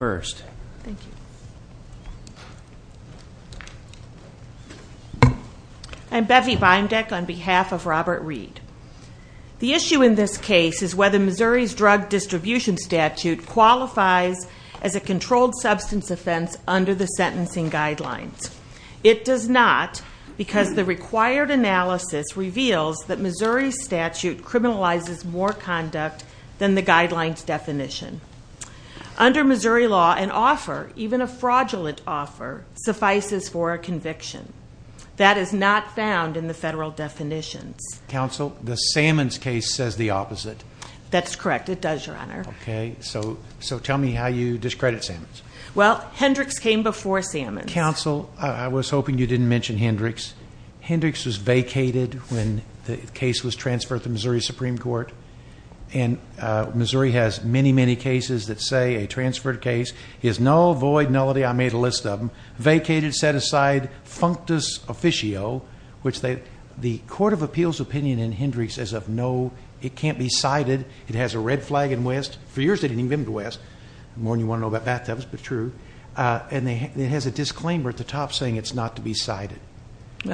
The issue in this case is whether Missouri's drug distribution statute qualifies as a controlled substance offense under the sentencing guidelines. It does not because the required analysis reveals that Missouri's statute criminalizes more conduct than the guidelines definition. Under Missouri law, an offer, even a fraudulent offer, suffices for a conviction. That is not found in the federal definitions. Counsel, the Sammons case says the opposite. That's correct. It does, Your Honor. Okay, so tell me how you discredit Sammons. Well, Hendricks came before Sammons. Counsel, I was hoping you didn't mention Hendricks. Hendricks was vacated when the case was transferred to the Missouri Supreme Court. And Missouri has many, many cases that say a transferred case is null, void, nullity. I made a list of them. Vacated, set aside, functus officio, which the Court of Appeals opinion in Hendricks is of no, it can't be cited. It has a red flag in West. For years they didn't even go to West. The more you want to know about bathtubs, but true. And it has a disclaimer at the top saying it's not to be cited.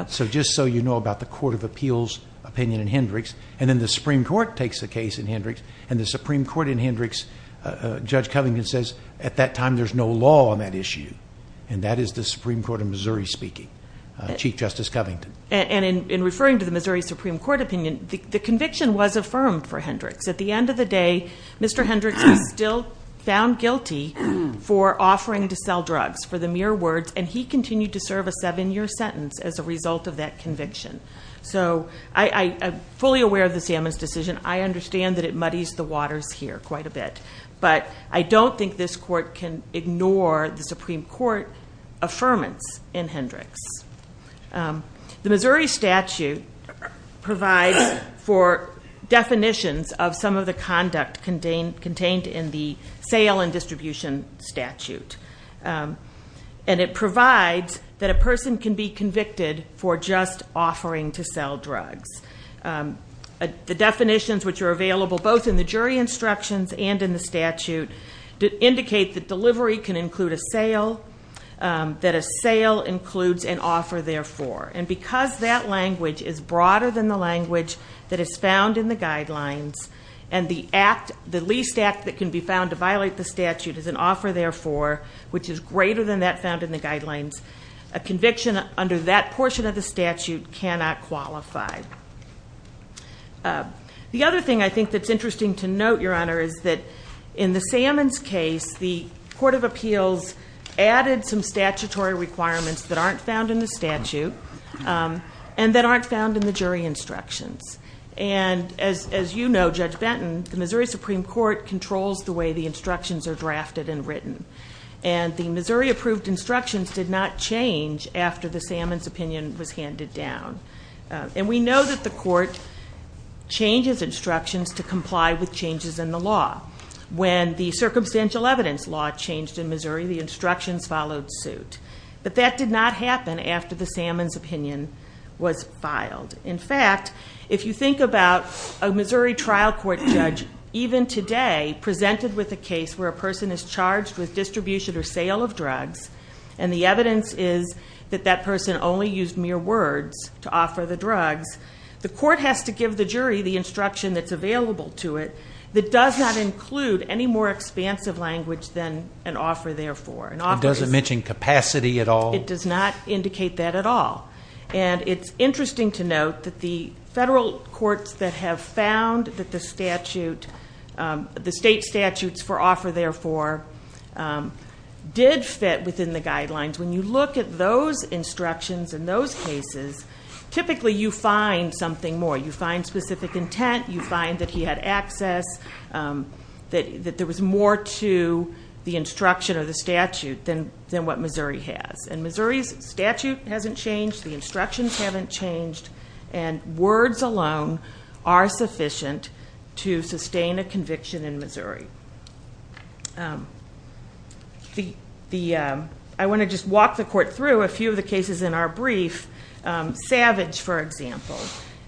So just so you know about the Court of Appeals opinion in Hendricks. And then the Supreme Court takes the case in Hendricks, and the Supreme Court in Hendricks, Judge Covington says at that time there's no law on that issue. And that is the Supreme Court of Missouri speaking, Chief Justice Covington. And in referring to the Missouri Supreme Court opinion, the conviction was affirmed for Hendricks. At the end of the day, Mr. Hendricks was still found guilty for offering to sell drugs for the mere words. And he continued to serve a seven-year sentence as a result of that conviction. So I am fully aware of the Salmon's decision. I understand that it muddies the waters here quite a bit. But I don't think this Court can ignore the Supreme Court affirmance in Hendricks. The Missouri statute provides for definitions of some of the conduct contained in the sale and distribution statute. And it provides that a person can be convicted for just offering to sell drugs. The definitions which are available both in the jury instructions and in the statute indicate that delivery can include a sale, that a sale includes an offer therefore. And because that language is broader than the language that is found in the guidelines, and the least act that can be found to violate the statute is an offer therefore, which is greater than that found in the guidelines, a conviction under that portion of the statute cannot qualify. The other thing I think that's interesting to note, Your Honor, is that in the Salmon's case, the Court of Appeals added some statutory requirements that aren't found in the statute, and that aren't found in the jury instructions. And as you know, Judge Benton, the Missouri Supreme Court controls the way the instructions are drafted and written. And the Missouri-approved instructions did not change after the Salmon's opinion was handed down. And we know that the Court changes instructions to comply with changes in the law. When the circumstantial evidence law changed in Missouri, the instructions followed suit. But that did not happen after the Salmon's opinion was filed. In fact, if you think about a Missouri trial court judge, even today presented with a case where a person is charged with distribution or sale of drugs, and the evidence is that that person only used mere words to offer the drugs, the court has to give the jury the instruction that's available to it that does not include any more expansive language than an offer therefore. It doesn't mention capacity at all? It does not indicate that at all. And it's interesting to note that the federal courts that have found that the statute, the state statutes for offer therefore, did fit within the guidelines. When you look at those instructions in those cases, typically you find something more. You find specific intent, you find that he had access, that there was more to the instruction or the statute than what Missouri has. And Missouri's statute hasn't changed, the instructions haven't changed, and words alone are sufficient to sustain a conviction in Missouri. I want to just walk the court through a few of the cases in our brief. Savage, for example,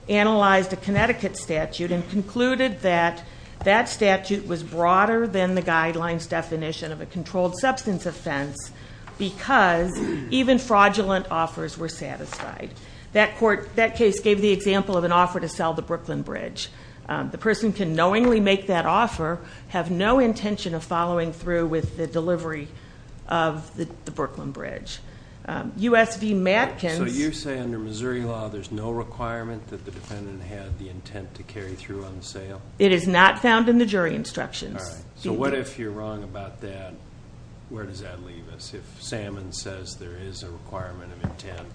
analyzed a Connecticut statute and concluded that that statute was broader than the guidelines definition of a controlled substance offense because even fraudulent offers were satisfied. That case gave the example of an offer to sell the Brooklyn Bridge. The person can knowingly make that offer, have no intention of following through with the delivery of the Brooklyn Bridge. U.S. v. Matkins. So you say under Missouri law there's no requirement that the defendant had the intent to carry through on sale? It is not found in the jury instructions. All right. So what if you're wrong about that? Where does that leave us if Salmon says there is a requirement of intent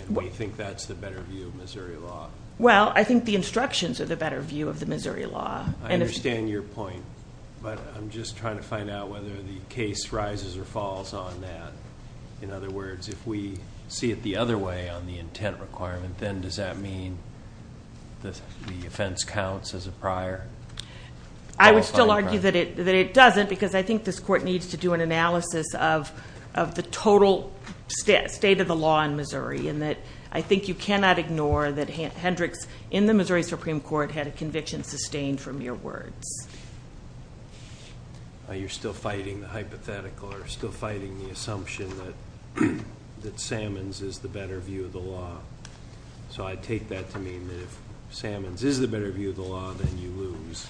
and we think that's the better view of Missouri law? Well, I think the instructions are the better view of the Missouri law. I understand your point. But I'm just trying to find out whether the case rises or falls on that. In other words, if we see it the other way on the intent requirement, then does that mean the offense counts as a prior? I would still argue that it doesn't because I think this court needs to do an analysis of the total state of the law in Missouri and that I think you cannot ignore that Hendricks in the Missouri Supreme Court had a conviction sustained from your words. You're still fighting the hypothetical or still fighting the assumption that Salmon's is the better view of the law. So I take that to mean that if Salmon's is the better view of the law, then you lose.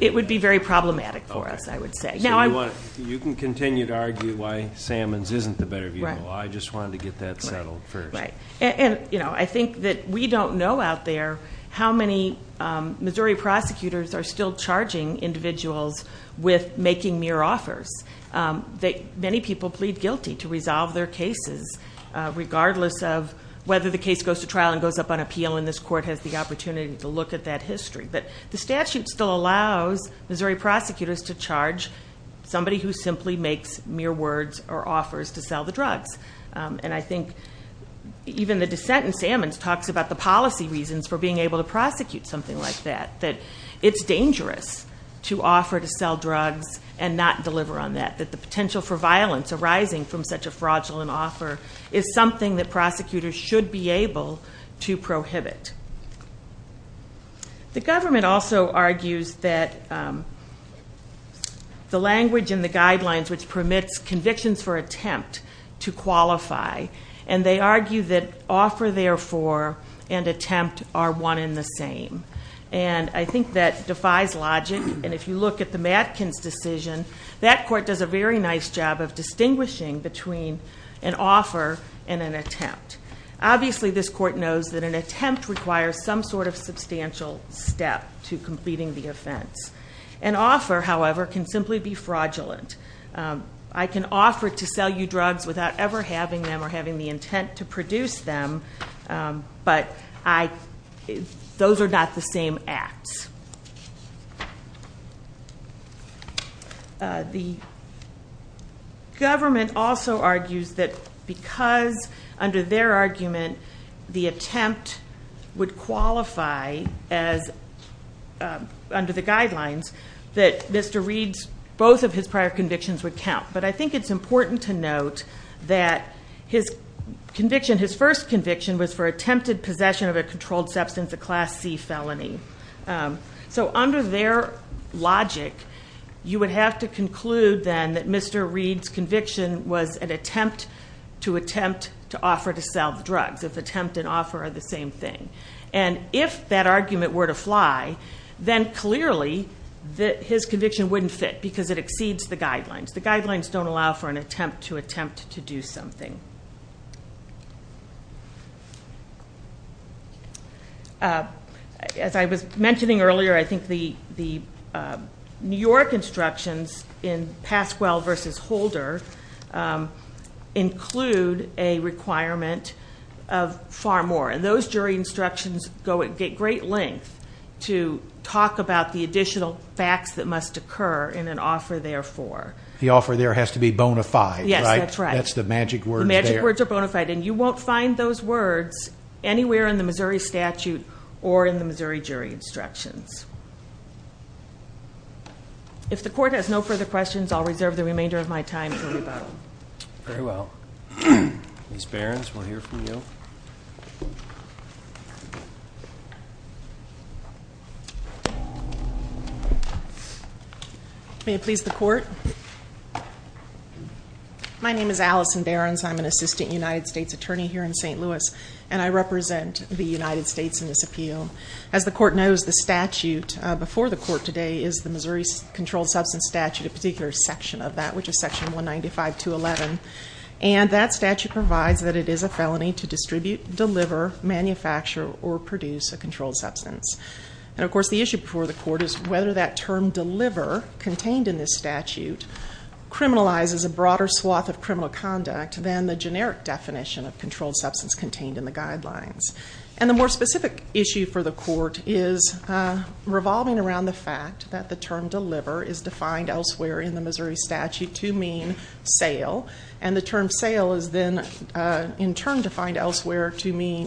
It would be very problematic for us, I would say. You can continue to argue why Salmon's isn't the better view of the law. I just wanted to get that settled first. I think that we don't know out there how many Missouri prosecutors are still charging individuals with making mere offers. Many people plead guilty to resolve their cases regardless of whether the case goes to trial and goes up on appeal and this court has the opportunity to look at that history. But the statute still allows Missouri prosecutors to charge somebody who simply makes mere words or offers to sell the drugs. And I think even the dissent in Salmon's talks about the policy reasons for being able to prosecute something like that. That it's dangerous to offer to sell drugs and not deliver on that. That the potential for violence arising from such a fraudulent offer is something that prosecutors should be able to prohibit. The government also argues that the language in the guidelines which permits convictions for attempt to qualify. And they argue that offer therefore and attempt are one in the same. And I think that defies logic and if you look at the Matkins decision that court does a very nice job of distinguishing between an offer and an attempt. Obviously this court knows that an attempt requires some sort of substantial step to completing the offense. An offer, however, can simply be fraudulent. I can offer to sell you drugs without ever having them or having the intent to produce them. But those are not the same acts. The government also argues that because under their argument the attempt would qualify as under the guidelines that Mr. Reed's both of his prior convictions would count. But I think it's important to note that his conviction, his first conviction was for attempted possession of a controlled substance, a Class C felony. So under their logic you would have to conclude then that Mr. Reed's conviction was an attempt to attempt to offer to sell the drugs. If attempt and offer are the same thing. And if that argument were to fly, then clearly his conviction wouldn't fit because it exceeds the guidelines. The guidelines don't allow for an attempt to attempt to do something. As I was mentioning earlier, I think the New York instructions in Pasquale versus Holder include a requirement of far more. And those jury instructions get great length to talk about the additional facts that must occur in an offer therefore. The offer there has to be bona fide, right? Yes, that's right. That's the magic words there. The magic words are bona fide. And you won't find those words anywhere in the Missouri statute or in the Missouri jury instructions. If the court has no further questions, I'll reserve the remainder of my time to rebuttal. Very well. Ms. Behrens, we'll hear from you. Thank you. May it please the court. My name is Allison Behrens. I'm an assistant United States attorney here in St. Louis. And I represent the United States in this appeal. As the court knows, the statute before the court today is the Missouri Controlled Substance Statute, a particular section of that, which is section 195-211. And that statute provides that it is a felony to distribute, deliver, manufacture, or produce a controlled substance. And, of course, the issue before the court is whether that term deliver contained in this statute criminalizes a broader swath of criminal conduct than the generic definition of controlled substance contained in the guidelines. And the more specific issue for the court is revolving around the fact that the term deliver is defined elsewhere in the Missouri statute to mean sale. And the term sale is then, in turn, defined elsewhere to mean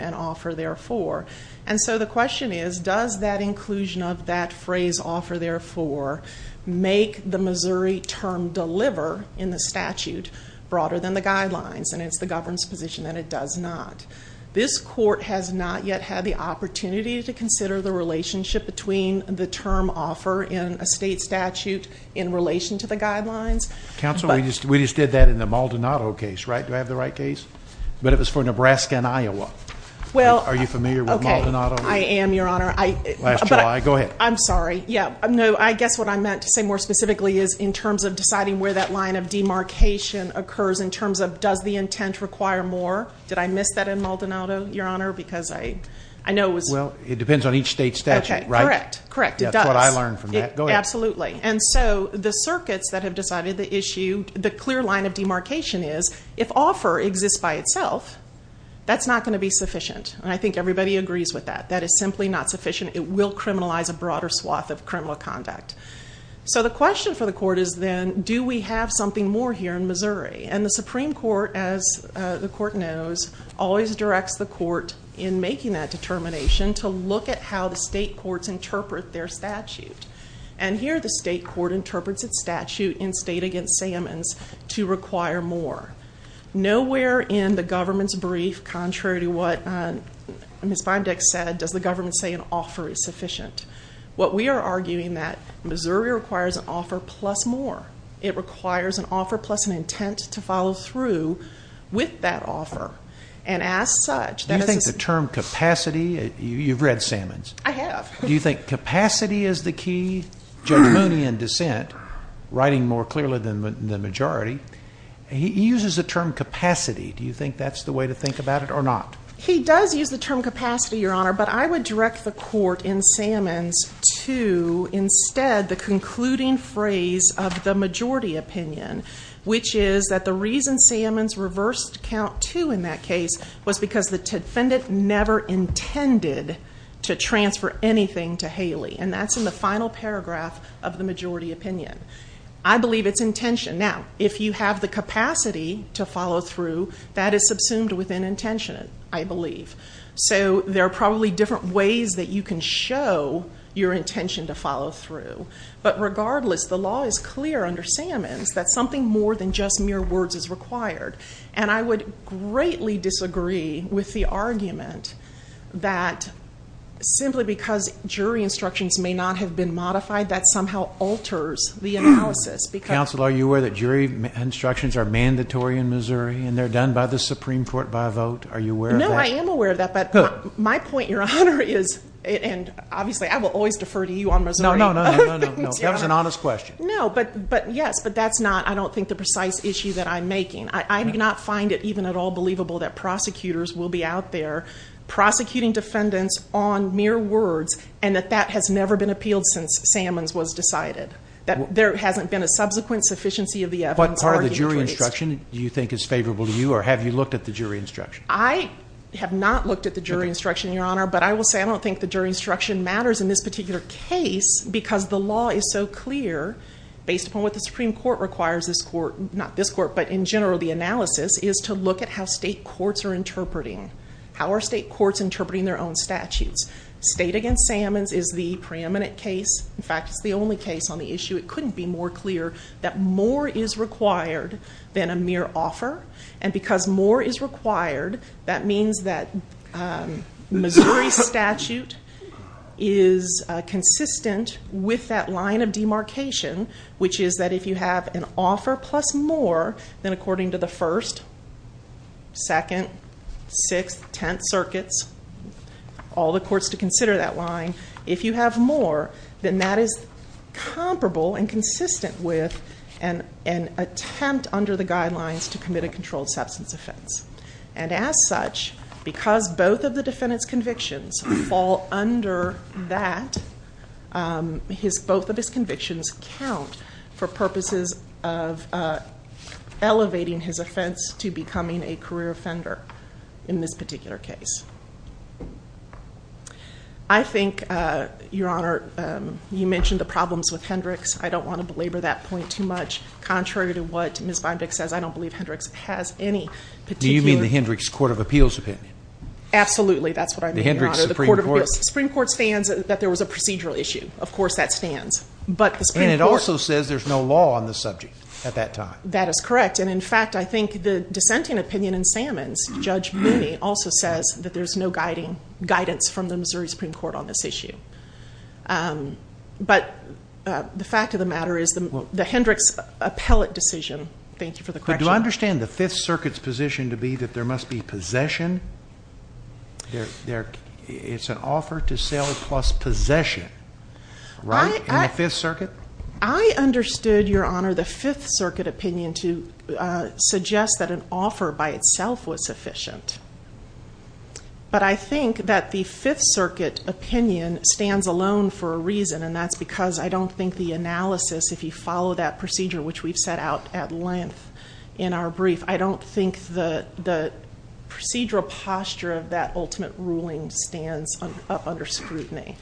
an offer therefore. And so the question is, does that inclusion of that phrase offer therefore make the Missouri term deliver in the statute broader than the guidelines? And it's the government's position that it does not. This court has not yet had the opportunity to consider the relationship between the term offer in a state statute in relation to the guidelines of the state statute. Counsel, we just did that in the Maldonado case, right? Do I have the right case? But it was for Nebraska and Iowa. Are you familiar with Maldonado? I am, Your Honor. Last July. Go ahead. I'm sorry. I guess what I meant to say more specifically is in terms of deciding where that line of demarcation occurs in terms of does the intent require more. Did I miss that in Maldonado, Your Honor? Because I know it was... Well, it depends on each state statute, right? Correct. Correct. It does. The issue, the clear line of demarcation is if offer exists by itself, that's not going to be sufficient. And I think everybody agrees with that. That is simply not sufficient. It will criminalize a broader swath of criminal conduct. So the question for the court is then do we have something more here in Missouri? And the Supreme Court, as the court knows, always directs the court in making that determination to look at how the state courts interpret their statute. And here the state court interprets its statute to require more. Nowhere in the government's brief, contrary to what Ms. Bindex said, does the government say an offer is sufficient. What we are arguing that Missouri requires an offer plus more. It requires an offer plus an intent to follow through with that offer. And as such... Do you think the term capacity... You've read Sammons. I have. Do you think capacity is the key? Judge Mooney in dissent, in the majority, he uses the term capacity. Do you think that's the way to think about it or not? He does use the term capacity, Your Honor. But I would direct the court in Sammons to instead the concluding phrase of the majority opinion, which is that the reason Sammons reversed count two in that case was because the defendant never intended to transfer anything to Haley. And that's in the final paragraph of the majority opinion. I believe it's intention. Now, if you have the capacity to follow through, that is subsumed within intention, I believe. So there are probably different ways that you can show your intention to follow through. But regardless, the law is clear under Sammons that something more than just mere words is required. And I would greatly disagree with the argument that simply because jury instructions may not have been modified, that somehow alters the analysis. Counsel, are you aware that jury instructions are mandatory in Missouri and they're done by the Supreme Court by vote? Are you aware of that? No, I am aware of that. But my point, Your Honor, is, and obviously I will always defer to you on Missouri. No, no, no. That was an honest question. No, but yes, but that's not, I don't think, the precise issue that I'm making. I do not find it even at all believable that prosecutors will be out there prosecuting defendants on mere words and that that has never been appealed since Sammons was decided. That there hasn't been a subsequent sufficiency of the evidence. What part of the jury instruction do you think is favorable to you? Or have you looked at the jury instruction? I have not looked at the jury instruction, Your Honor. But I will say I don't think the jury instruction matters in this particular case because the law is so clear based upon what the Supreme Court requires this court, not this court, but in general the analysis, is to look at how state courts are interpreting. How are state courts interpreting their own statutes? State against Sammons is the preeminent case. In fact, it's the only case on the issue. It couldn't be more clear that more is required than a mere offer. And because more is required, that means that Missouri statute is consistent with that line of demarcation, which is that if you have an offer plus more than according to the 1st, 2nd, 6th, 10th circuits, all the courts to consider that line, if you have more, then that is comparable and consistent with an attempt under the guidelines to commit a controlled substance offense. And as such, because both of the defendant's convictions fall under that, both of his convictions count for purposes of elevating his offense to becoming a career offender in this particular case. I think, Your Honor, you mentioned the problems with Hendricks. I don't want to belabor that point too much. Contrary to what Ms. Vinebeck says, I don't believe Hendricks has any particular... Do you mean the Hendricks Court of Appeals opinion? Absolutely, that's what I mean, Your Honor. The Hendricks Supreme Court. The Supreme Court stands that there was a procedural issue. Of course that stands. And it also says there's no law on the subject at that time. That is correct. And in fact, I think the dissenting opinion in Sammons with Judge Binney also says that there's no guidance from the Missouri Supreme Court on this issue. But the fact of the matter is, the Hendricks appellate decision... Thank you for the correction. But do I understand the Fifth Circuit's position to be that there must be possession? It's an offer to sell plus possession. Right? In the Fifth Circuit? I understood, Your Honor, the Fifth Circuit opinion to suggest that an offer by itself was sufficient. But I think that the Fifth Circuit opinion stands alone for a reason, and that's because I don't think the analysis, if you follow that procedure, which we've set out at length in our brief, I don't think the procedural posture of that ultimate ruling stands up under scrutiny.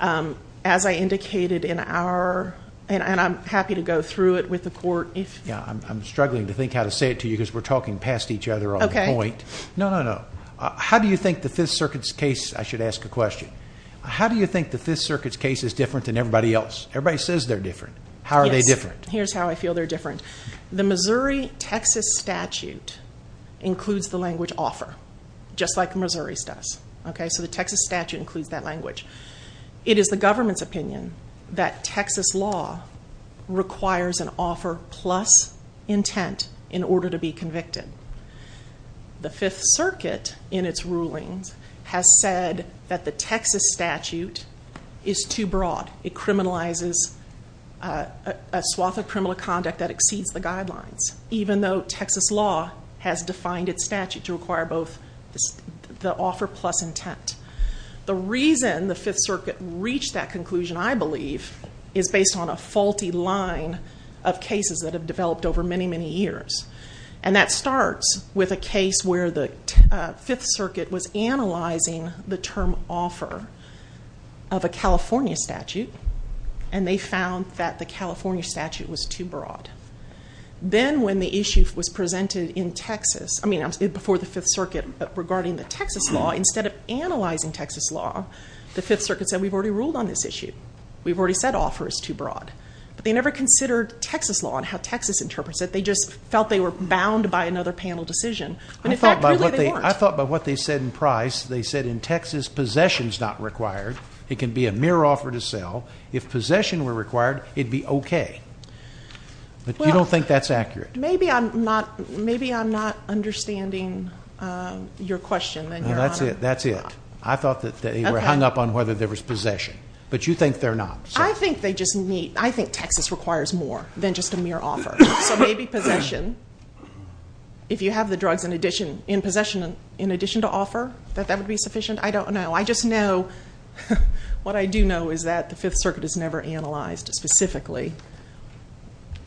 As I indicated in our... And I'm happy to go through it with the court if... Yeah, I'm struggling to think how to say it to you because we're talking past each other on the point. No, no, no. How do you think the Fifth Circuit's case... I should ask a question. How do you think the Fifth Circuit's case is different than everybody else? Everybody says they're different. How are they different? Yes. Here's how I feel they're different. The Missouri-Texas statute includes the language offer, just like Missouri's does. Okay? So the Texas statute includes that language. It is the government's opinion that Texas law requires an offer plus intent in order to be convicted. The Fifth Circuit, in its rulings, has said that the Texas statute is too broad. It criminalizes a swath of criminal conduct that exceeds the guidelines, even though Texas law has defined its statute to require both the offer plus intent. The reason the Fifth Circuit reached that conclusion, I believe, is based on a faulty line of cases that have developed over many, many years. And that starts with a case where the Fifth Circuit was analyzing the term offer of a California statute, and they found that the California statute was too broad. Then, when the issue was presented in Texas, I mean, before the Fifth Circuit, regarding the Texas law, instead of analyzing Texas law, the Fifth Circuit said, we've already ruled on this issue. We've already said offer is too broad. But they never considered Texas law and how Texas interprets it. They just felt they were bound by another panel decision. And in fact, really, they weren't. I thought by what they said in Price, they said in Texas, possession's not required. It can be a mere offer to sell. If possession were required, it'd be okay. But you don't think that's accurate? Maybe I'm not understanding your question, then, Your Honor. That's it. That's it. I thought that they were hung up on whether there was possession. I think Texas requires more than just a mere offer. So maybe possession, if you have the drugs in possession, in addition to offer, that that would be sufficient? I don't know. I just know, what I do know, is that the Fifth Circuit has never analyzed, specifically,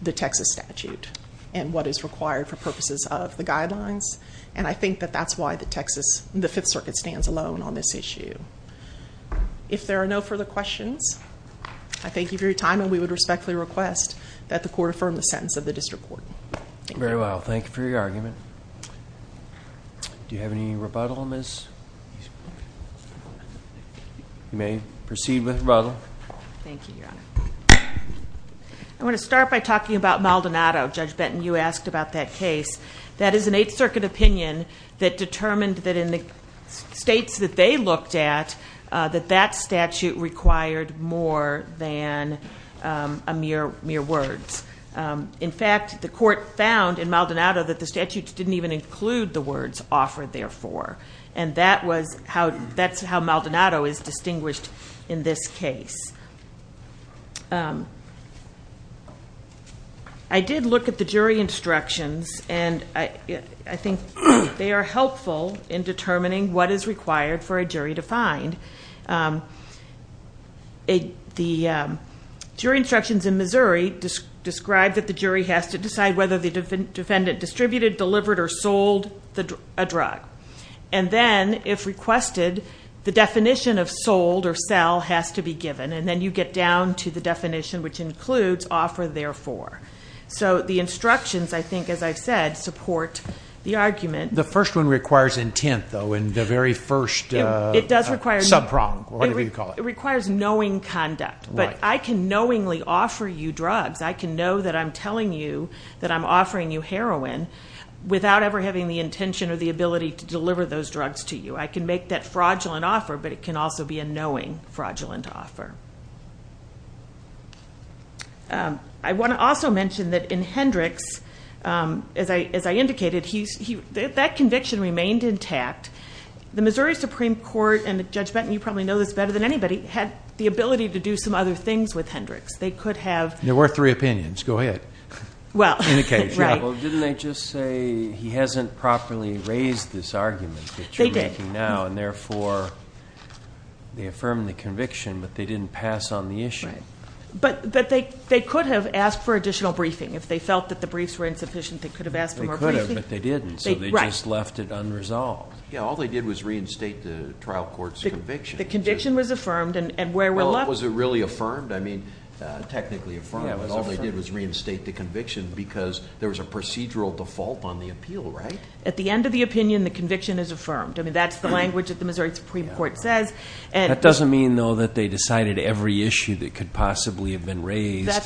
the Texas statute and what is required for purposes of the guidelines. And I think that that's why the Fifth Circuit stands alone on this issue. If there are no further questions, I thank you for your time and we would respectfully request that the Court affirm the sentence of the District Court. Very well. Thank you for your argument. Do you have any rebuttal, Ms.? You may proceed with rebuttal. Thank you, Your Honor. I want to start by talking about Maldonado. Judge Benton, you asked about that case. That is an Eighth Circuit opinion that determined that in the states that they looked at, that that statute required more than mere words. In fact, the Court found in Maldonado that the statutes didn't even include the words, offer, therefore. And that's how Maldonado is distinguished in this case. I did look at the jury instructions and I think they are helpful in determining what is required for a jury to find. The jury instructions in Missouri describe that the jury has to decide whether the defendant distributed, delivered, or sold a drug. And then, if requested, the definition of sold or sell has to be given. And then you get down to the definition which includes offer, therefore. So the instructions, I think, as I've said, support the argument. The first one requires intent, though. It does require subprong, whatever you call it. It requires knowing conduct. But I can knowingly offer you drugs. I can know that I'm telling you that I'm offering you heroin without ever having the intention or the ability to deliver those drugs to you. I can make that fraudulent offer, but it can also be a knowing, fraudulent offer. I want to also mention that in Hendricks, as I indicated, that conviction remained intact. The Supreme Court, and Judge Benton, you probably know this better than anybody, had the ability to do some other things with Hendricks. They could have... There were three opinions. Go ahead. Didn't they just say he hasn't properly raised this argument that you're making now? They did. And therefore, they affirmed the conviction, but they didn't pass on the issue. But they could have asked for the trial court's conviction. The conviction was affirmed, and where we're left... Well, was it really affirmed? I mean, technically affirmed, but all they did was reinstate the conviction because there was a procedural default on the appeal, right? At the end of the opinion, the conviction is affirmed. I mean, that's the language that the Missouri Supreme Court says. That doesn't mean, though, that they decided every issue that could possibly have been raised. That's what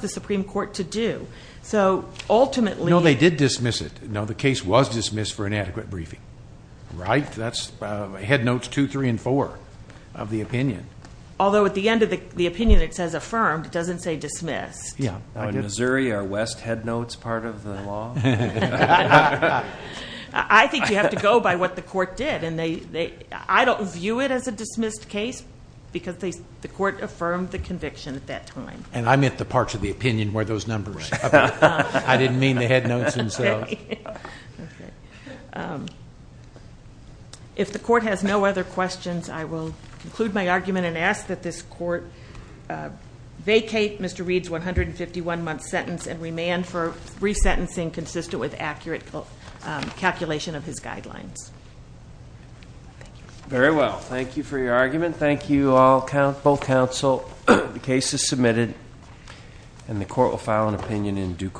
the Supreme Court to do. So ultimately... No, they did dismiss it. No, the case was dismissed for inadequate briefing, right? That's headnotes two, three, and four of the opinion. Although at the end of the opinion it says affirmed, it doesn't say dismissed. Yeah. In Missouri, are west headnotes part of the law? I think you have to go by what the court did, and I don't view it as a dismissed case because the court affirmed the conviction at that time. And I meant the parts of the opinion were those numbers. I didn't mean the headnotes themselves. Okay. If the court has no other questions, I will conclude my argument and ask that this court vacate Mr. Reed's 151-month sentence and remand for resentencing consistent with accurate calculation of his guidelines. Thank you. Very well. Thank you for your argument. The case is submitted, and the court will file an opinion in due course.